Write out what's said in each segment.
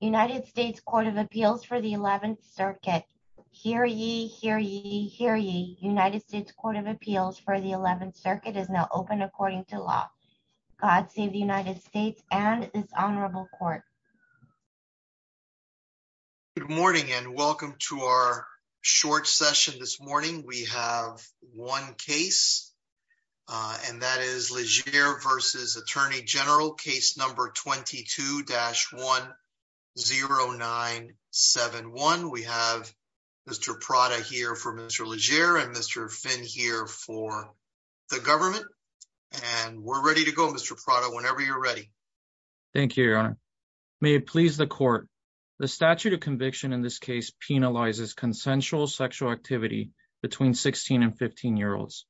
United States Court of Appeals for the 11th Circuit. Hear ye, hear ye, hear ye. United States Court of Appeals for the 11th Circuit is now open according to law. God save the United States and this honorable court. Good morning and welcome to our short session this morning. We have one case and that is Leger v. U.S. Attorney General, case number 22-10971. We have Mr. Prada here for Mr. Leger and Mr. Finn here for the government. And we're ready to go, Mr. Prada, whenever you're ready. Thank you, your honor. May it please the court. The statute of conviction in this case penalizes consensual sexual activity between 16 and 15-year-olds.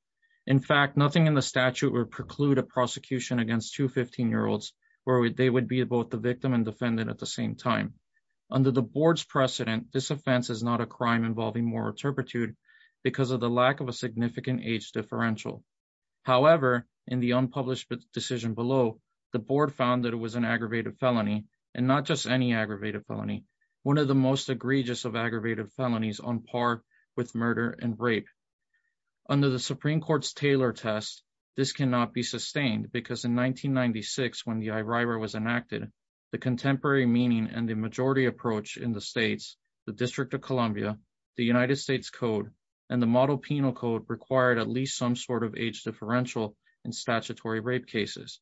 In fact, nothing in the statute would preclude a prosecution against two 15-year-olds where they would be both the victim and defendant at the same time. Under the board's precedent, this offense is not a crime involving moral turpitude because of the lack of a significant age differential. However, in the unpublished decision below, the board found that it was an aggravated felony and not just any aggravated felony, one of the most egregious of aggravated felonies on par with murder and rape. Under the Supreme Court's Taylor test, this cannot be sustained because in 1996, when the IRIRA was enacted, the contemporary meaning and the majority approach in the states, the District of Columbia, the United States Code, and the Model Penal Code required at least some sort of age differential in statutory rape cases.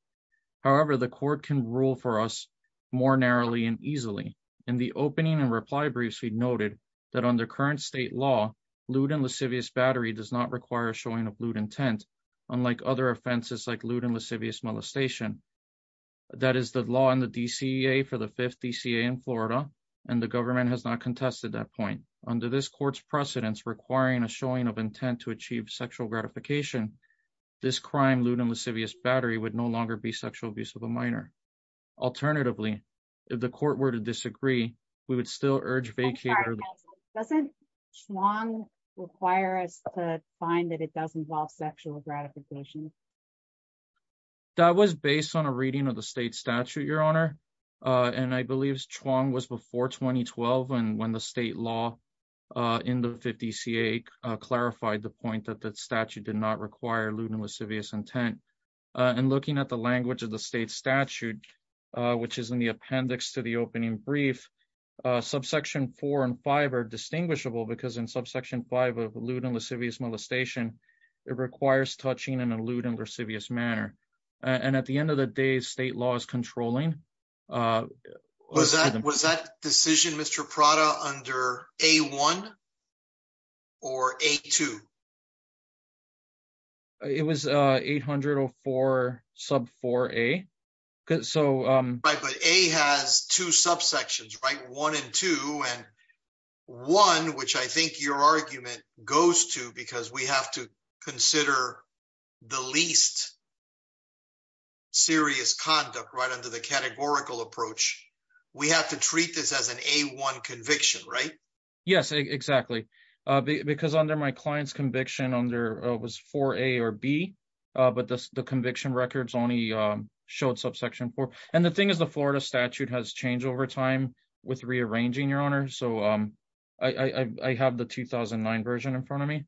However, the court can rule for us more narrowly and easily. In the opening and reply briefs, we noted that under current state law, lewd and lascivious battery does not require a showing of lewd intent, unlike other offenses like lewd and lascivious molestation. That is the law in the DCA for the fifth DCA in Florida, and the government has not contested that point. Under this court's precedents requiring a showing of intent to achieve sexual gratification, this crime, lewd and lascivious battery, would no longer be sexual abuse of a minor. Alternatively, if the court were to disagree, we would still urge vacate early. I'm sorry, Counselor, doesn't Chuang require us to find that it does involve sexual gratification? That was based on a reading of the state statute, Your Honor. And I believe Chuang was before 2012, and when the state law in the fifth DCA clarified the point that that statute did not require lewd and lascivious intent. And looking at the language of the state statute, which is in the appendix to opening brief, subsection four and five are distinguishable because in subsection five of lewd and lascivious molestation, it requires touching in a lewd and lascivious manner. And at the end of the day, state law is controlling. Was that decision, Mr. Prada, under A1 or A2? It was 804 sub 4A. But A has two subsections, right? One and two. And one, which I think your argument goes to because we have to consider the least serious conduct right under the categorical approach. We have to treat this as an A1 conviction, right? Yes, exactly. Because under my client's conviction, it was 4A or B, but the conviction records only showed subsection four. And the thing is, the Florida statute has changed over time with rearranging, your honor. So I have the 2009 version in front of me.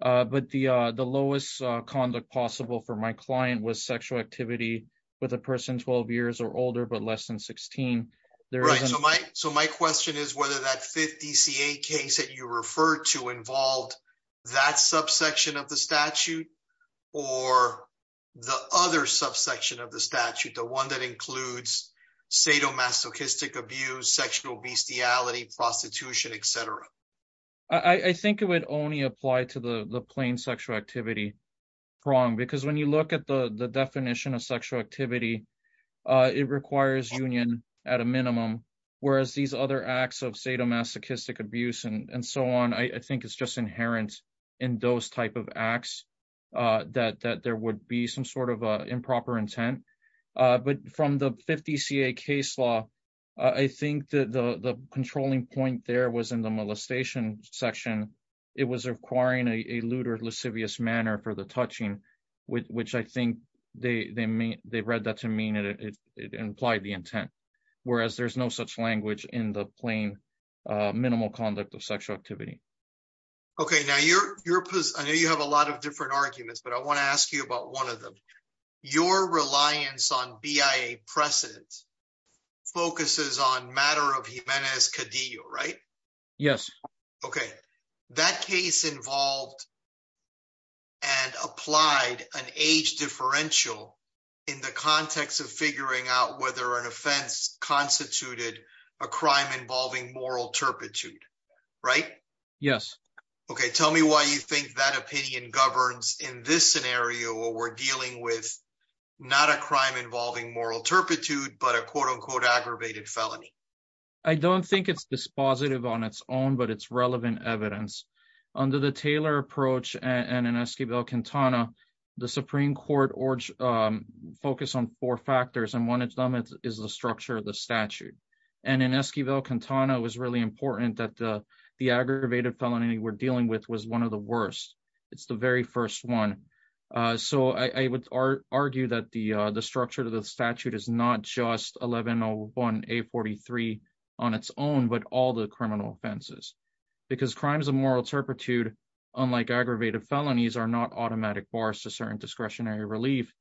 But the lowest conduct possible for my client was sexual activity with a person 12 years or older, but less than 16. So my question is whether that fifth DCA case that you referred to involved that subsection of the statute or the other subsection of the statute, the one that includes sadomasochistic abuse, sexual bestiality, prostitution, et cetera. I think it would only apply to the plain sexual activity. Because when you look at the definition of sexual activity, it requires union at a minimum, whereas these other acts of sadomasochistic abuse and so on, I think it's just inherent in those type of acts that there would be some sort of improper intent. But from the 50 CA case law, I think that the controlling point there was in the molestation section. It was requiring a lewd or lascivious manner for the touching, which I think they read that to mean it implied the intent, whereas there's no such language in plain minimal conduct of sexual activity. Okay. Now, I know you have a lot of different arguments, but I want to ask you about one of them. Your reliance on BIA precedent focuses on matter of Jimenez-Cadillo, right? Yes. Okay. That case involved and applied an age differential in the context of figuring out whether an offense constituted a crime involving moral turpitude, right? Yes. Okay. Tell me why you think that opinion governs in this scenario where we're dealing with not a crime involving moral turpitude, but a quote unquote aggravated felony. I don't think it's dispositive on its own, but it's relevant evidence. Under the Taylor approach and in Esquibel Quintana, the Supreme Court focused on four factors, and one of them is the structure of the statute. And in Esquibel Quintana, it was really important that the aggravated felony we're dealing with was one of the worst. It's the very first one. So I would argue that the structure of the statute is not just 1101A43 on its own, but all the criminal offenses. Because crimes of moral turpitude, unlike aggravated felonies, are not automatic bars to certain discretionary relief,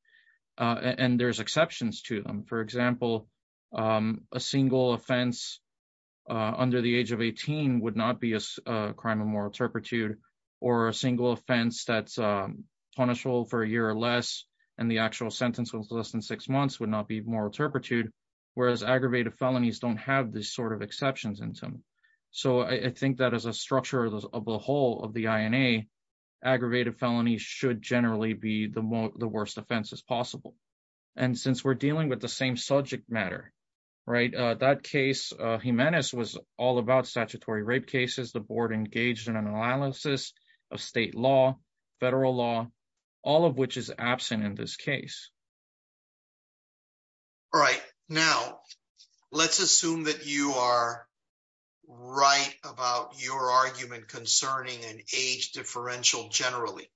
and there's exceptions to them. For example, a single offense under the age of 18 would not be a crime of moral turpitude, or a single offense that's punishable for a year or less, and the actual sentence was less than six months would not be moral turpitude, whereas aggravated felonies don't have these sort of exceptions in them. So I think that as a structure of the whole of the INA, aggravated felonies should generally be the worst offenses possible. And since we're dealing with the same subject matter, that case, Jimenez, was all about statutory rape cases. The board engaged in an analysis of state law, federal law, all of which is absent in this case. All right. Now, let's assume that you are right about your argument concerning an age differential generally.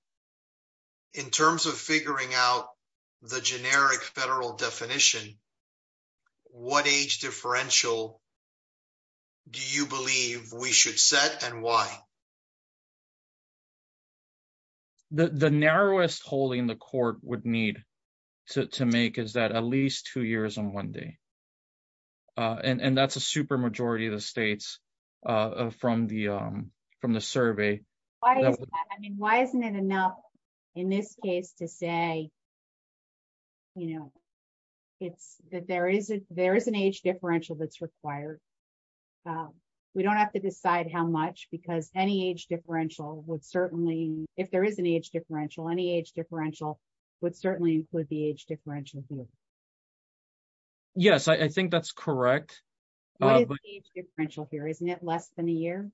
In terms of figuring out the generic federal definition, what age differential do you believe we should set, and why? The narrowest holding the court would need to make is that at least two years on one day, and that's a super majority of the states from the survey. Why is that? I mean, why isn't it enough in this case to say, you know, it's that there is an age differential that's required. So we don't have to decide how much, because any age differential would certainly, if there is an age differential, any age differential would certainly include the age differential here. Yes, I think that's correct. What is the age differential here? Isn't it less than a year?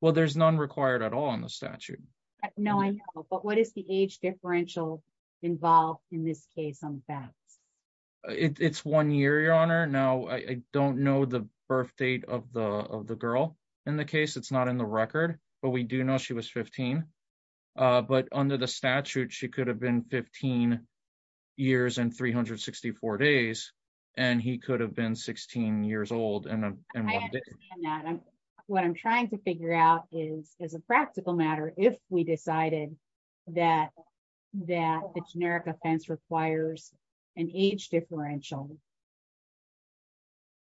Well, there's none required at all in the statute. No, I know. But what is the age differential involved in this case? It's one year, Your Honor. Now, I don't know the birth date of the girl in the case. It's not in the record, but we do know she was 15. But under the statute, she could have been 15 years and 364 days, and he could have been 16 years old. What I'm trying to figure out is as a practical matter, if we decided that the generic offense requires an age differential,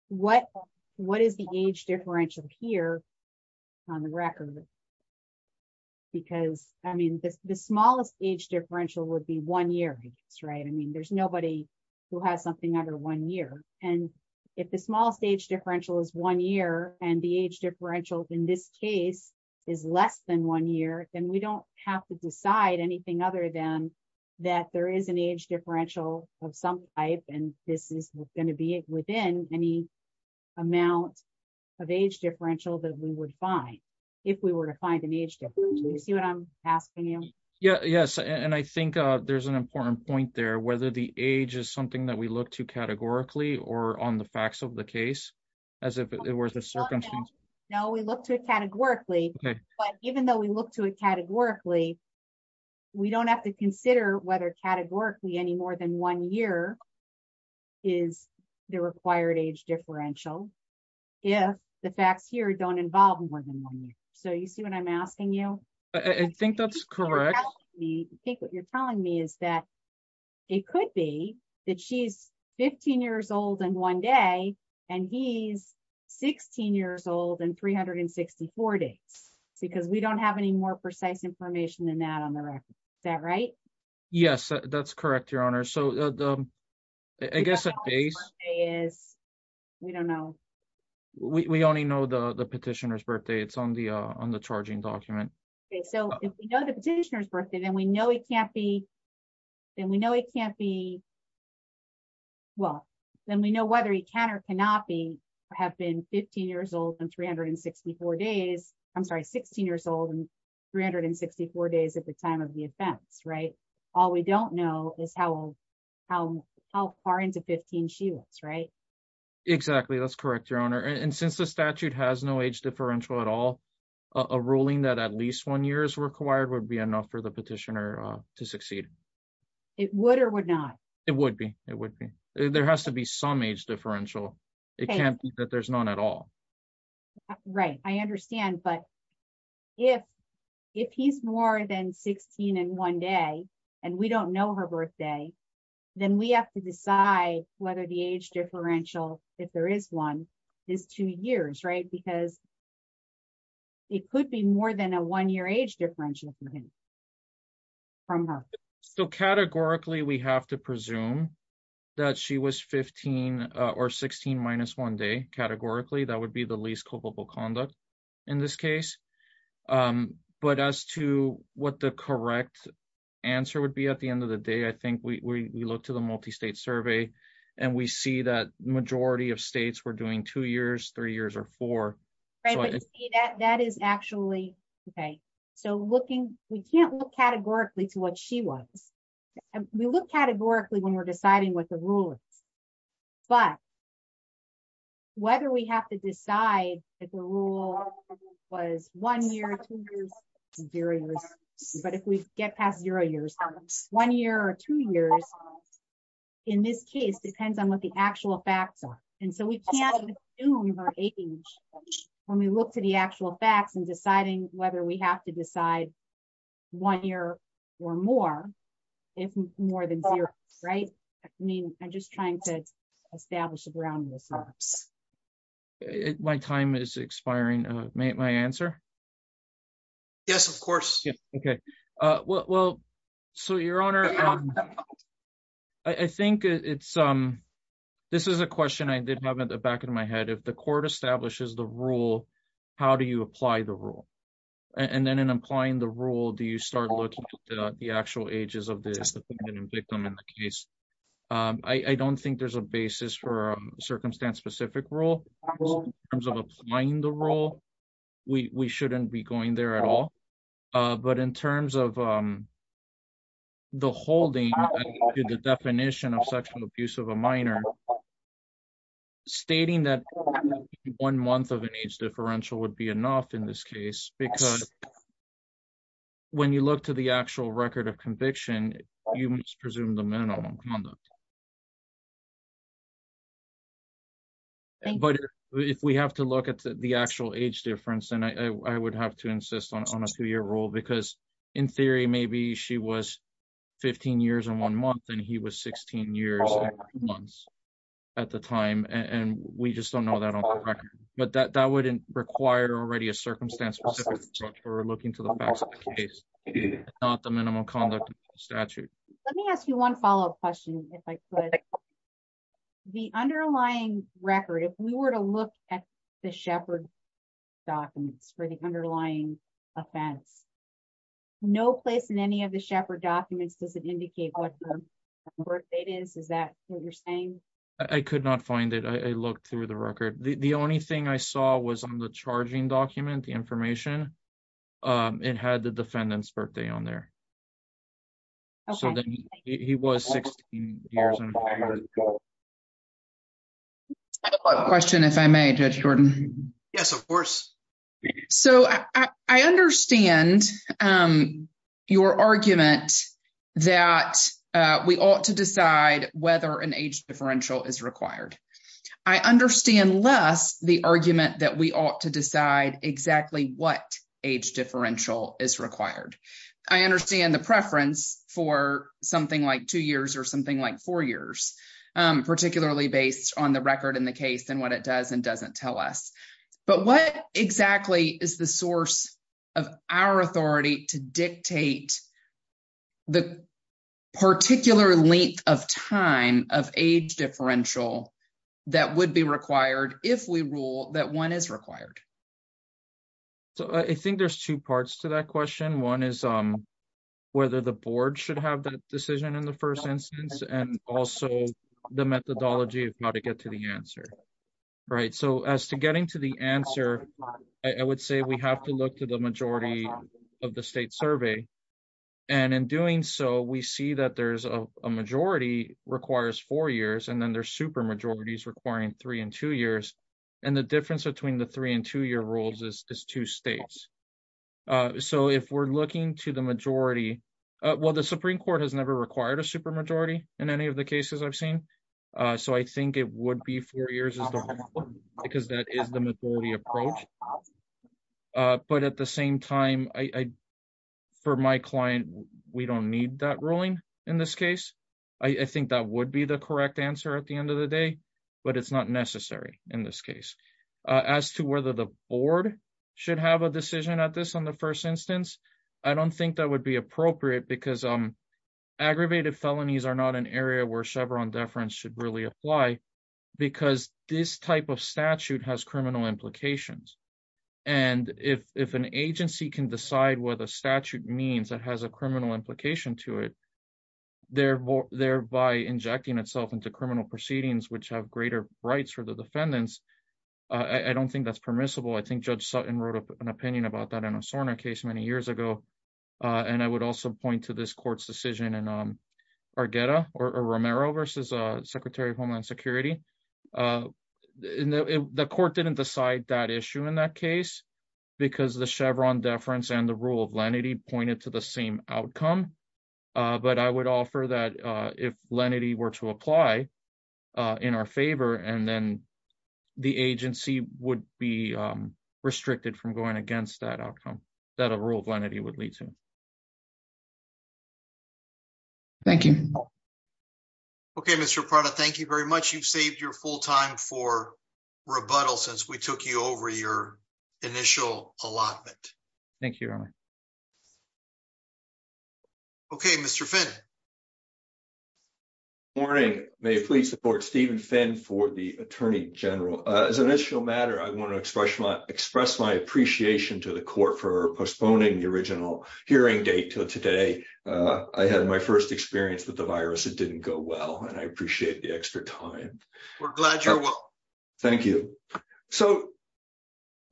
what is the age differential here on the record? Because, I mean, the smallest age differential would be one year, I guess, right? I mean, there's nobody who has something under one year. And if the smallest age differential is one year and the age differential in this case is less than one year, then we don't have to decide anything other than that there is an age differential of some type, and this is going to be within any amount of age differential that we would find if we were to find an age differential. Do you see what I'm asking you? Yes. And I think there's an important point there, whether the age is something that we look to categorically or on the facts of the case, as if it were the circumstances. No, we look to it categorically. But even though we look to it categorically, we don't have to consider whether categorically any more than one year is the required age differential if the facts here don't involve more than one year. So you see what I'm asking you? I think that's correct. I think what you're telling me is that it could be that she's 15 years old in one day, and he's 16 years old and 364 days, because we don't have any more precise information than that on the record. Is that right? Yes, that's correct, Your Honor. So I guess at base, we don't know. We only know the petitioner's birthday. It's on the on the charging document. So if we know the petitioner's birthday, then we know it can't be. Then we know it can't be. Well, then we know whether he can or cannot be have been 15 years old and 364 days, I'm sorry, 16 years old and 364 days at the time of the offense, right? All we don't know is how old how how far into 15 she was, right? Exactly. That's correct, Your Honor. And since the statute has no age differential at all, a ruling that at least one year is required would be enough for the it would be it would be there has to be some age differential. It can't be that there's none at all. Right. I understand. But if if he's more than 16 in one day, and we don't know her birthday, then we have to decide whether the age differential if there is one is two years, right? Because it could be more than a one year age differential from her. So categorically, we have to presume that she was 15 or 16 minus one day categorically, that would be the least culpable conduct in this case. But as to what the correct answer would be at the end of the day, I think we look to the multi state survey. And we see that majority of states were doing two years, three years or four. That is actually okay. So looking, we can't look categorically to what she was. We look categorically when we're deciding what the rule is. But whether we have to decide that the rule was one year, two years, but if we get past zero years, one year or two years, in this case depends on what the actual facts are. And so we can't assume her age. When we look to the actual facts and deciding whether we have to decide one year or more, if more than zero, right? I mean, I'm just trying to establish the groundwork. My time is expiring. My answer. Yes, of course. Okay. Well, so your honor. I think it's, this is a question I did have in the back of my head. If the court establishes the rule, how do you apply the rule? And then in applying the rule, do you start looking at the actual ages of the victim in the case? I don't think there's a basis for circumstance specific rule. In terms of applying the rule, we shouldn't be going there at all. But in terms of the holding, the definition of sexual abuse of a minor stating that one month of an age differential would be enough in this case, because when you look to the actual record of conviction, you must presume the minimum conduct. But if we have to look at the actual age difference, and I would have to insist on a two year rule, because in theory, maybe she was 15 years and one month, and he was 16 years, months at the time. And we just don't know that on record. But that wouldn't require already a circumstance for looking to the facts of the case, not the minimum conduct statute. Let me ask you one follow up question, if I could. The underlying record, if we were to look at the shepherd documents for the underlying offense, no place in any of the shepherd documents doesn't indicate what it is. Is that what you're saying? I could not find it. I looked through the record. The only thing I saw was on the charging document, the information. It had the defendant's birthday on there. So then he was 16 years. I have a question, if I may, Judge Jordan. Yes, of course. So I understand your argument that we ought to decide whether an age differential is required. I understand less the argument that we ought to decide exactly what age differential is required. I understand the preference for something like two years or something like four years, particularly based on the record in the case and what it does and doesn't tell us. But what exactly is the source of our authority to dictate the particular length of time of age differential that would be required if we rule that one is required? I think there's two parts to that question. One is whether the board should have that decision in the first instance and also the methodology of how to get to the answer. So as to getting to the answer, I would say we have to look to the majority of the state survey. And in doing so, we see that there's a majority requires four years and then there's super majorities requiring three and two years. And the difference between the three and two year rules is two states. So if we're looking to the majority, well, the Supreme Court has never required a super majority in any of the cases I've seen. So I think it would be four years because that is the majority approach. But at the same time, for my client, we don't need that ruling in this case. I think that would be the correct answer at the end of the day, but it's not necessary in this case. As to whether the board should have a decision at this on the first instance, I don't think that would be appropriate because aggravated felonies are not an area where Chevron deference should apply because this type of statute has criminal implications. And if an agency can decide what a statute means that has a criminal implication to it, thereby injecting itself into criminal proceedings, which have greater rights for the defendants, I don't think that's permissible. I think Judge Sutton wrote an opinion about that in a SORNA case many years ago. And I would also point to this court's decision in Argetta or Romero versus Secretary of Homeland Security. The court didn't decide that issue in that case because the Chevron deference and the rule of lenity pointed to the same outcome. But I would offer that if lenity were to apply in our favor, and then the agency would be restricted from going against that outcome that a rule of lenity would lead to. Thank you. Okay, Mr. Prada, thank you very much. You've saved your full time for rebuttal since we took you over your initial allotment. Thank you. Okay, Mr. Finn. Good morning. May I please support Stephen Finn for the Attorney General. As an initial matter, I want to express my appreciation to the court for postponing the original hearing date to today. I had my first experience with the virus. It didn't go well, and I appreciate the extra time. We're glad you're well. Thank you. So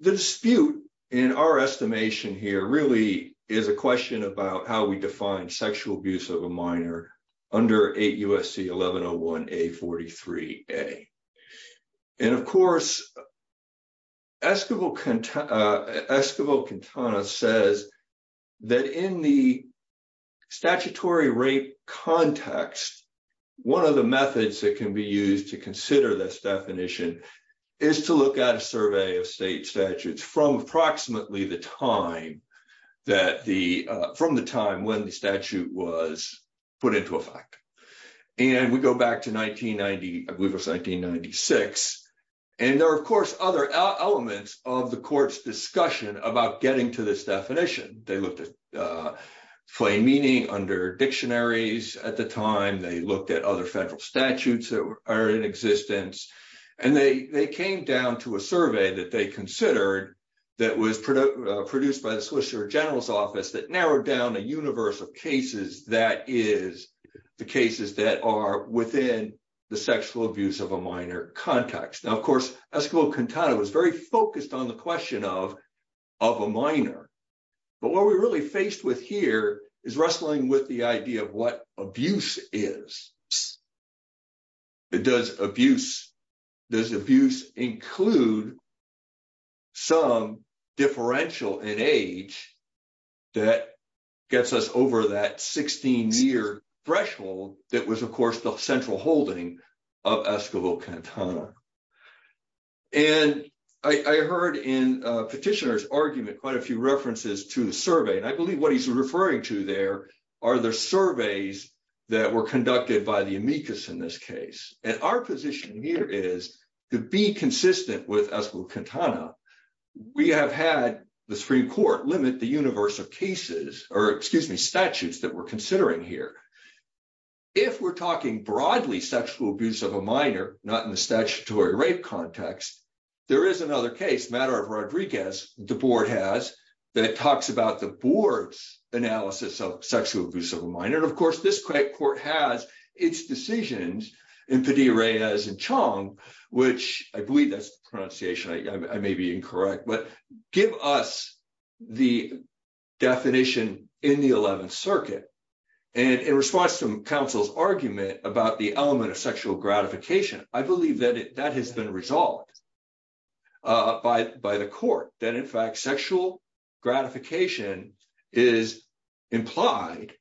the dispute in our estimation here really is a question about how we define sexual abuse of a minor under 8 U.S.C. 1101A43A. And of course, Esquivel-Quintana says that in the statutory rape context, one of the methods that can be used to consider this definition is to look at a survey of state statutes from approximately the time when the statute was put into effect. And we go back to 1990, I believe it was 1996. And there are, of course, other elements of the court's discussion about getting to this definition. They looked at plain meaning under dictionaries at the time. They looked at other federal statutes that are in existence. And they came down to a survey that they considered that was produced by the Solicitor General's Office that narrowed down a universe of cases that is the cases that are within the sexual abuse of a minor context. Now, of course, Esquivel-Quintana was very focused on the question of a minor. But what we're really faced with here is wrestling with the idea of what abuse is. Does abuse include some differential in age that gets us over that 16-year threshold that was, of course, the central holding of Esquivel-Quintana? And I heard in a petitioner's argument, quite a few references to the survey. And I believe what he's referring to there are the surveys that were conducted by the amicus in this case. And our position here is to be consistent with Esquivel-Quintana. We have had the Supreme Court limit the universe of cases or, excuse me, statutes that we're considering here. If we're talking broadly sexual abuse of a minor, not in the statutory rape context, there is another case, matter of Rodriguez, the board has that talks about the board's analysis of sexual abuse of a minor. And of course, this court has its decisions in Padilla-Reyes and Chong, which I believe that's the pronunciation, I may be incorrect, but give us the definition in the 11th Circuit. And in response to counsel's argument about the element of sexual gratification, I believe that that has been resolved by the court, that in fact, sexual gratification is implied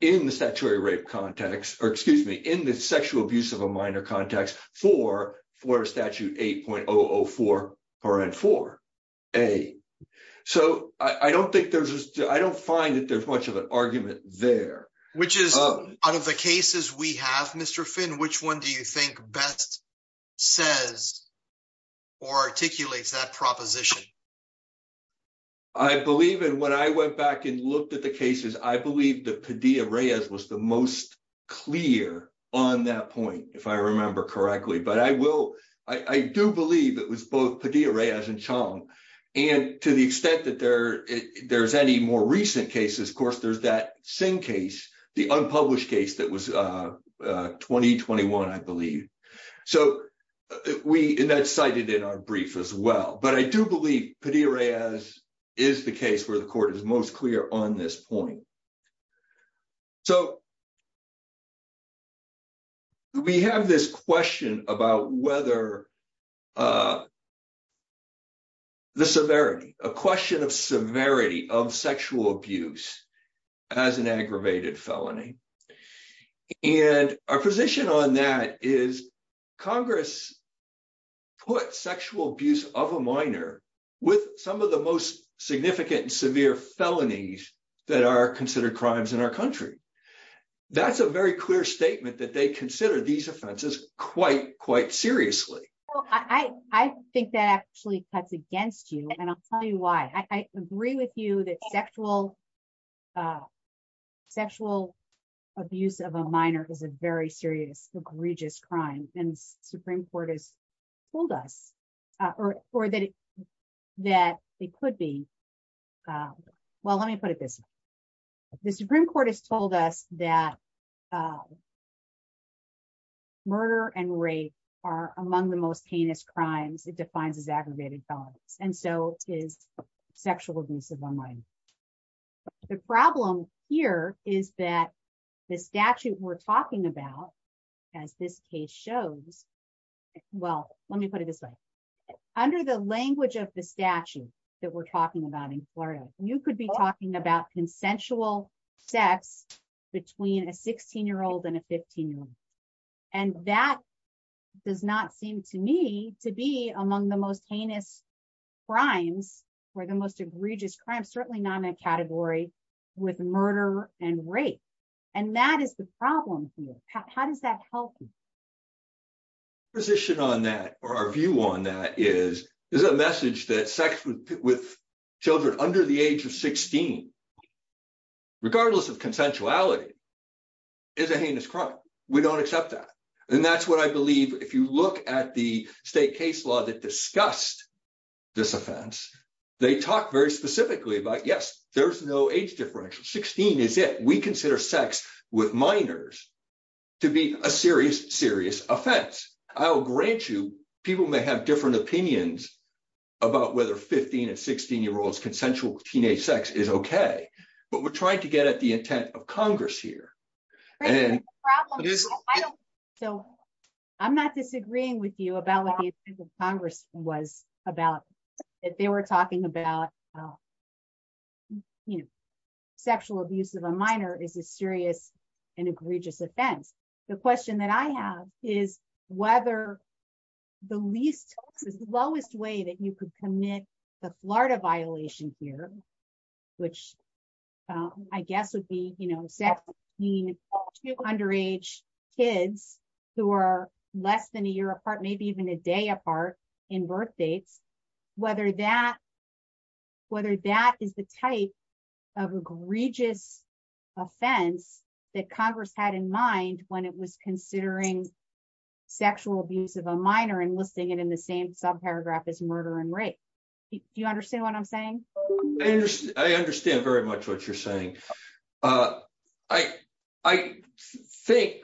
in the statutory rape context, or excuse me, in the sexual abuse of a minor context for a statute 8.004.4a. So I don't find that there's much of an argument there. Which is, out of the cases we have, Mr. Finn, which one do you think best says or articulates that proposition? I believe, and when I went back and looked at the cases, I believe that Padilla-Reyes was the most clear on that point, if I remember correctly, but I do believe it was both Padilla-Reyes and Chong. And to the extent that there's any more recent cases, of course, there's that Singh case, the unpublished case that was 2021, I believe. So we, and that's cited in our brief as well, but I do believe Padilla-Reyes is the case where the court is most clear on this point. So we have this question about whether the severity, a question of severity of sexual abuse as an aggravated felony. And our position on that is Congress put sexual abuse of a minor with some of the most significant and severe felonies that are considered crimes in our country. That's a very clear statement that they consider these offenses quite, quite seriously. Well, I think that actually cuts abuse of a minor is a very serious, egregious crime. And the Supreme Court has told us, or that it could be, well, let me put it this way. The Supreme Court has told us that murder and rape are among the most heinous crimes it defines as aggravated felonies. And so is sexual abuse of a minor. The problem here is that the statute we're talking about, as this case shows, well, let me put it this way. Under the language of the statute that we're talking about in Florida, you could be talking about consensual sex between a 16-year-old and a 15-year-old. And that does not seem to me to be among the most heinous crimes or the most egregious crimes, certainly not in that category with murder and rape. And that is the problem here. How does that help? Our position on that, or our view on that is, there's a message that with children under the age of 16, regardless of consensuality, is a heinous crime. We don't accept that. And that's what I believe. If you look at the state case law that discussed this offense, they talk very specifically about, yes, there's no age differential, 16 is it. We consider sex with minors to be a serious, serious offense. I will grant you, people may have different opinions about whether 15 and 16-year-olds consensual teenage sex is okay, but we're trying to get at the intent of Congress here. I'm not disagreeing with you about what the intent of Congress was about. They were talking about sexual abuse of a minor is a serious and egregious offense. The question that I have is whether the least, slowest way that you could commit the Florida violation here, which I guess would be sex between two underage kids who are less than a year apart, maybe even a day apart in birth dates, whether that is the type of egregious offense that Congress had in mind when it was considering sexual abuse of a minor and listing it in the same subparagraph as murder and rape. Do you understand what I'm saying? I understand very much what you're saying. I think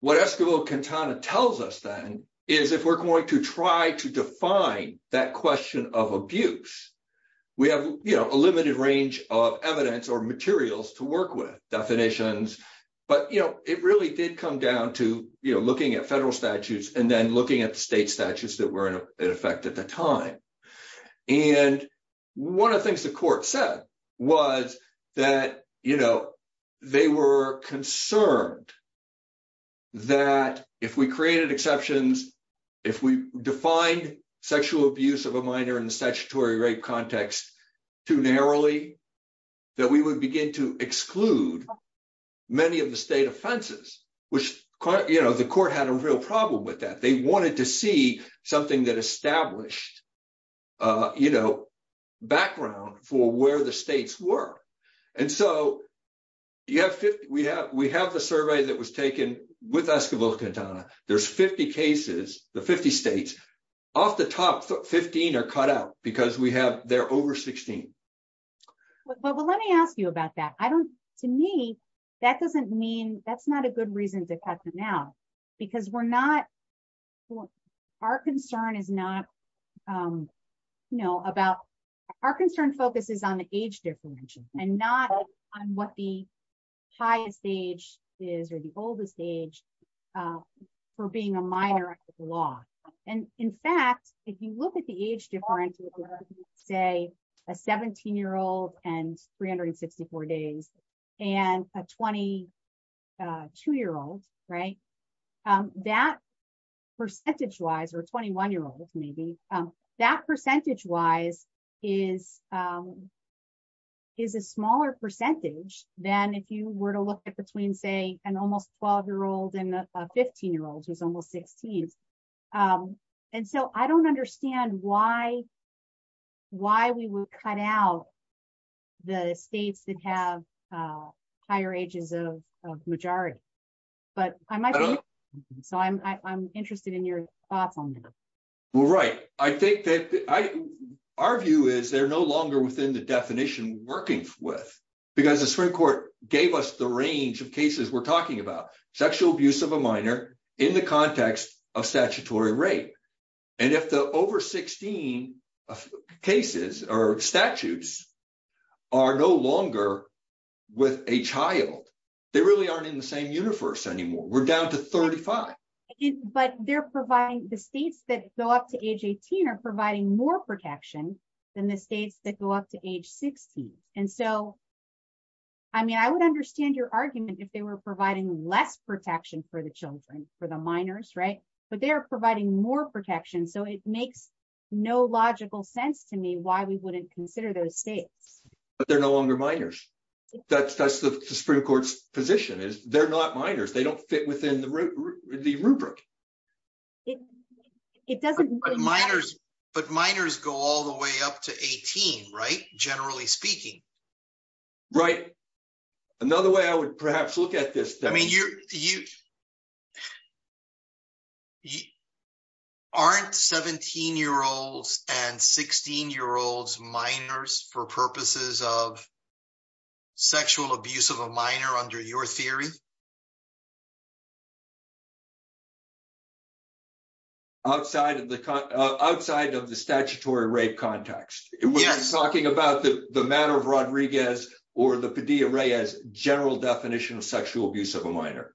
what Escobar-Quintana tells us then is if we're going to try to define that question of abuse, we have a limited range of evidence or materials to work with, definitions, but it really did come down to looking at federal statutes and then looking at the state statutes that were in effect at the time. One of the things the court said was that they were concerned that if we created exceptions, if we defined sexual abuse of a minor in the statutory rape context too narrowly, that we would begin to exclude many of the state offenses, which the court had a real problem with that. They wanted to see something that established background for where the states were. We have the survey that was taken with Escobar-Quintana. There's 50 cases, the 50 states. Off the top, 15 are cut out because they're over 16. Well, let me ask you about that. To me, that doesn't mean that's not a good reason to cut them out because our concern focuses on the age difference and not on what the highest age is or the oldest age for being a minor law. In fact, if you look at the age difference, say a 17-year-old and 364 days and a 22-year-old, that percentage-wise or 21-year-old maybe, that percentage-wise is a smaller percentage than if you were to look at between, say, an almost 12-year-old and a 15-year-old who's almost 16. I don't understand why we would cut out the states that have higher ages of majority. I'm interested in your thoughts on that. Well, right. I think that our view is they're no longer within the definition we're working with because the Supreme Court gave us the range of cases we're talking about, sexual abuse of a minor in the context of statutory rape. If the over 16 cases or statutes are no longer with a child, they really aren't in the same universe anymore. We're down to 35. But the states that go up to age 18 are providing more protection than the states that go up to age 16. I would understand your argument if they were providing less protection for the children, for the minors, but they're providing more protection. It makes no logical sense to me why we wouldn't consider those states. But they're no longer minors. That's the position. They're not minors. They don't fit within the rubric. But minors go all the way up to 18, right? Generally speaking. Right. Another way I would perhaps look at this. I mean, aren't 17-year-olds and 16-year-olds minors for purposes of sexual abuse of a minor under your theory? Outside of the statutory rape context. We're talking about the matter of Rodriguez or the Padilla-Reyes general definition of sexual abuse of a minor.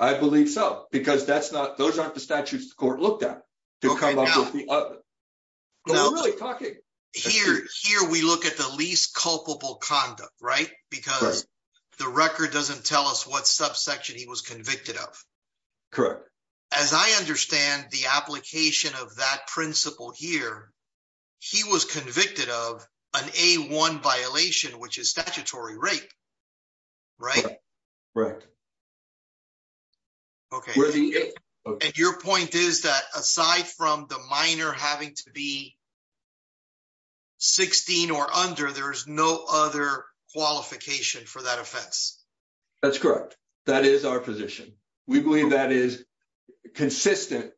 I believe so, because those aren't the statutes the court looked at. Here we look at the least culpable conduct, right? Because the record doesn't tell us what subsection he was convicted of. As I understand the application of that principle here, he was convicted of an A1 violation, which is statutory rape, right? Right. And your point is that aside from the minor having to be 16 or under, there's no other qualification for that offense. That's correct. That is our position. We believe that is consistent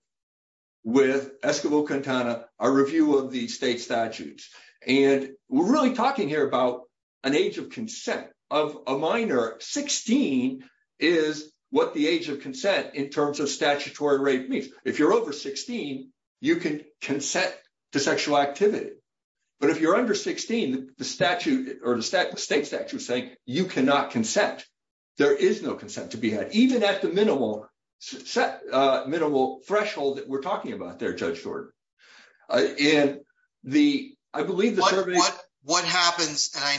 with Escobar-Quintana, our review of the state statutes. We're really talking here about an age of consent of a minor. 16 is what the age of consent in terms of statutory rape means. If you're over 16, you can consent to sexual activity. But if you're under 16, the state statute is saying you cannot consent. There is no consent to be had, even at the minimal threshold that we're in. What happens, and I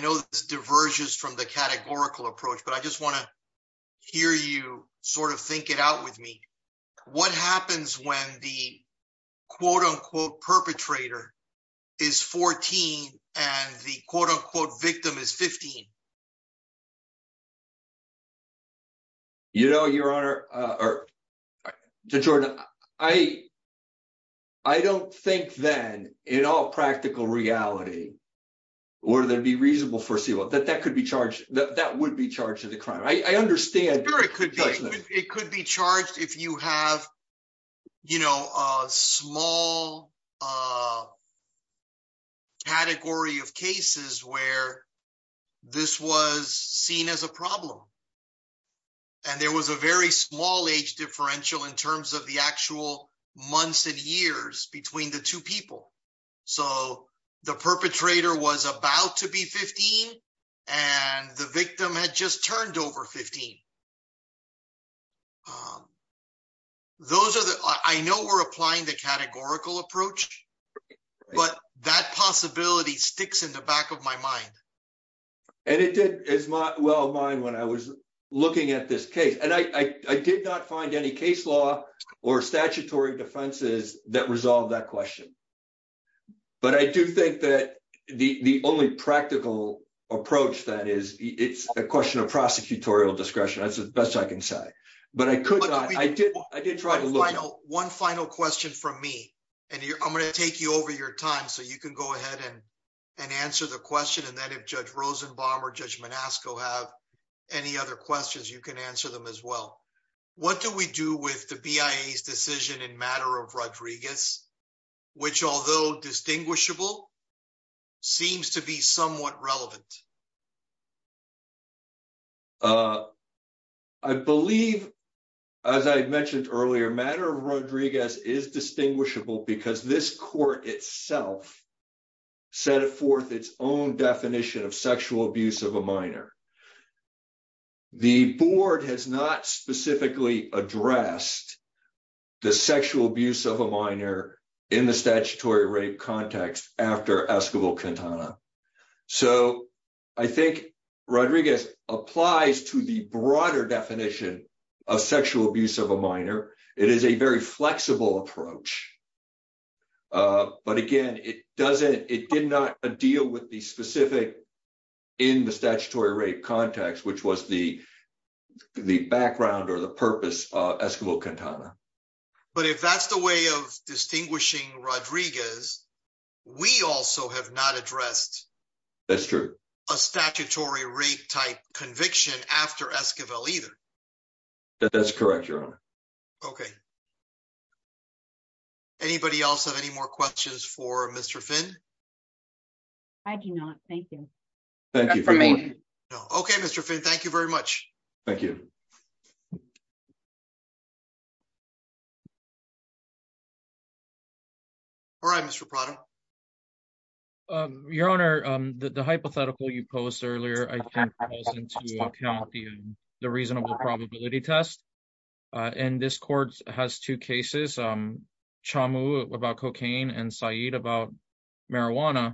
know this diverges from the categorical approach, but I just want to hear you sort of think it out with me. What happens when the quote-unquote perpetrator is 14 and the quote-unquote victim is 15? You know, Your Honor, to Jordan, I don't think then, in all practical reality, would there be reasonable foreseeable that that would be charged as a crime. I understand. It could be charged if you have, you know, a small category of cases where this was seen as a problem. And there was a very small age differential in terms of the actual months and years between the two people. So the perpetrator was about to be 15, and the victim had just turned over 15. Those are the, I know we're in a very small approach, but that possibility sticks in the back of my mind. And it did as well of mine when I was looking at this case. And I did not find any case law or statutory defenses that resolve that question. But I do think that the only practical approach that is, it's a question of prosecutorial discretion. That's the best I can say. But I could not, I did try to look. One final question from me, and I'm going to take you over your time so you can go ahead and answer the question. And then if Judge Rosenbaum or Judge Monasco have any other questions, you can answer them as well. What do we do with the BIA's decision in matter of Rodriguez, which although distinguishable, seems to be somewhat relevant? I believe, as I had mentioned earlier, matter of Rodriguez is distinguishable because this court itself set forth its own definition of sexual abuse of a minor. The board has not specifically addressed the sexual abuse of a minor in the statutory rape context after Escobar-Quintana. So I think Rodriguez applies to the broader definition of sexual abuse of a minor. It is a very flexible approach. But again, it did not deal with the specific in the statutory rape context, which was the background or the purpose of Escobar-Quintana. But if that's the way of distinguishing Rodriguez, we also have not addressed a statutory rape type conviction after Escobar-Quintana either. That's correct, Your Honor. Okay. Anybody else have any more questions for Mr. Finn? I do not. Thank you. Okay, Mr. Finn, thank you very much. Thank you. All right, Mr. Prada. Your Honor, the hypothetical you posed earlier, I think, falls into account the reasonable probability test. And this court has two cases, Chamu about cocaine and Said about marijuana.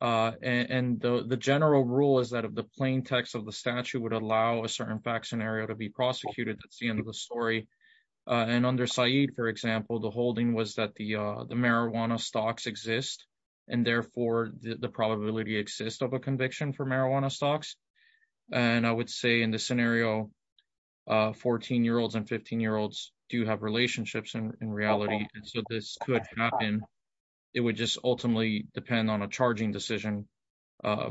And the general rule is that of the plaintext of the statute would allow a under Said, for example, the holding was that the marijuana stocks exist. And therefore, the probability exists of a conviction for marijuana stocks. And I would say in this scenario, 14-year-olds and 15-year-olds do have relationships in reality. And so this could happen. It would just ultimately depend on a charging decision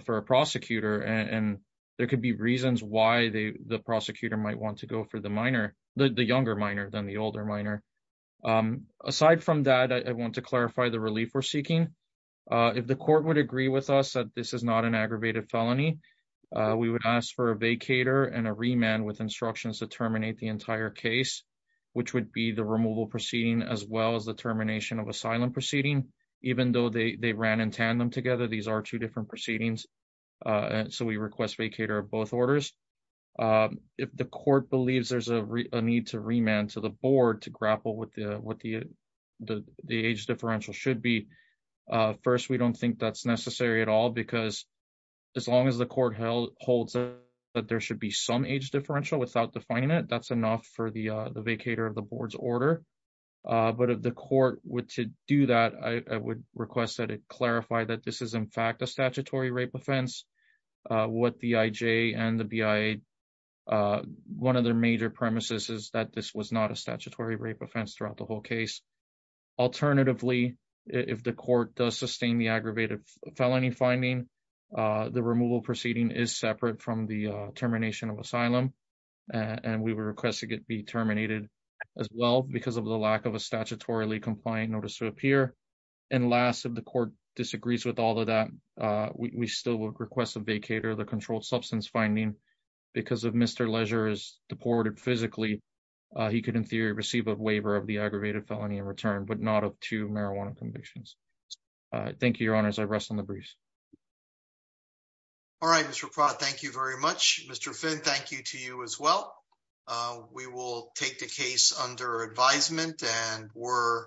for a prosecutor. And there could be reasons why the prosecutor might want to go for the minor, the younger minor than the older minor. Aside from that, I want to clarify the relief we're seeking. If the court would agree with us that this is not an aggravated felony, we would ask for a vacator and a remand with instructions to terminate the entire case, which would be the removal proceeding as well as the termination of asylum proceeding. Even though they ran in tandem together, these are two different proceedings. So we request vacator of both orders. If the court believes there's a need to remand to the board to grapple with what the age differential should be, first, we don't think that's necessary at all, because as long as the court holds that there should be some age differential without defining it, that's enough for the vacator of the board's order. But if the court were to do that, I would request that it be terminated. One of their major premises is that this was not a statutory rape offense throughout the whole case. Alternatively, if the court does sustain the aggravated felony finding, the removal proceeding is separate from the termination of asylum. And we were requesting it be terminated as well because of the lack of a statutorily compliant notice to appear. And last, if the court disagrees with all of that, we still request a vacator of controlled substance finding. Because if Mr. Leisure is deported physically, he could in theory receive a waiver of the aggravated felony in return, but not of two marijuana convictions. Thank you, your honors. I rest on the briefs. All right, Mr. Pratt, thank you very much. Mr. Finn, thank you to you as well. We will take the case under advisement and we're adjourned.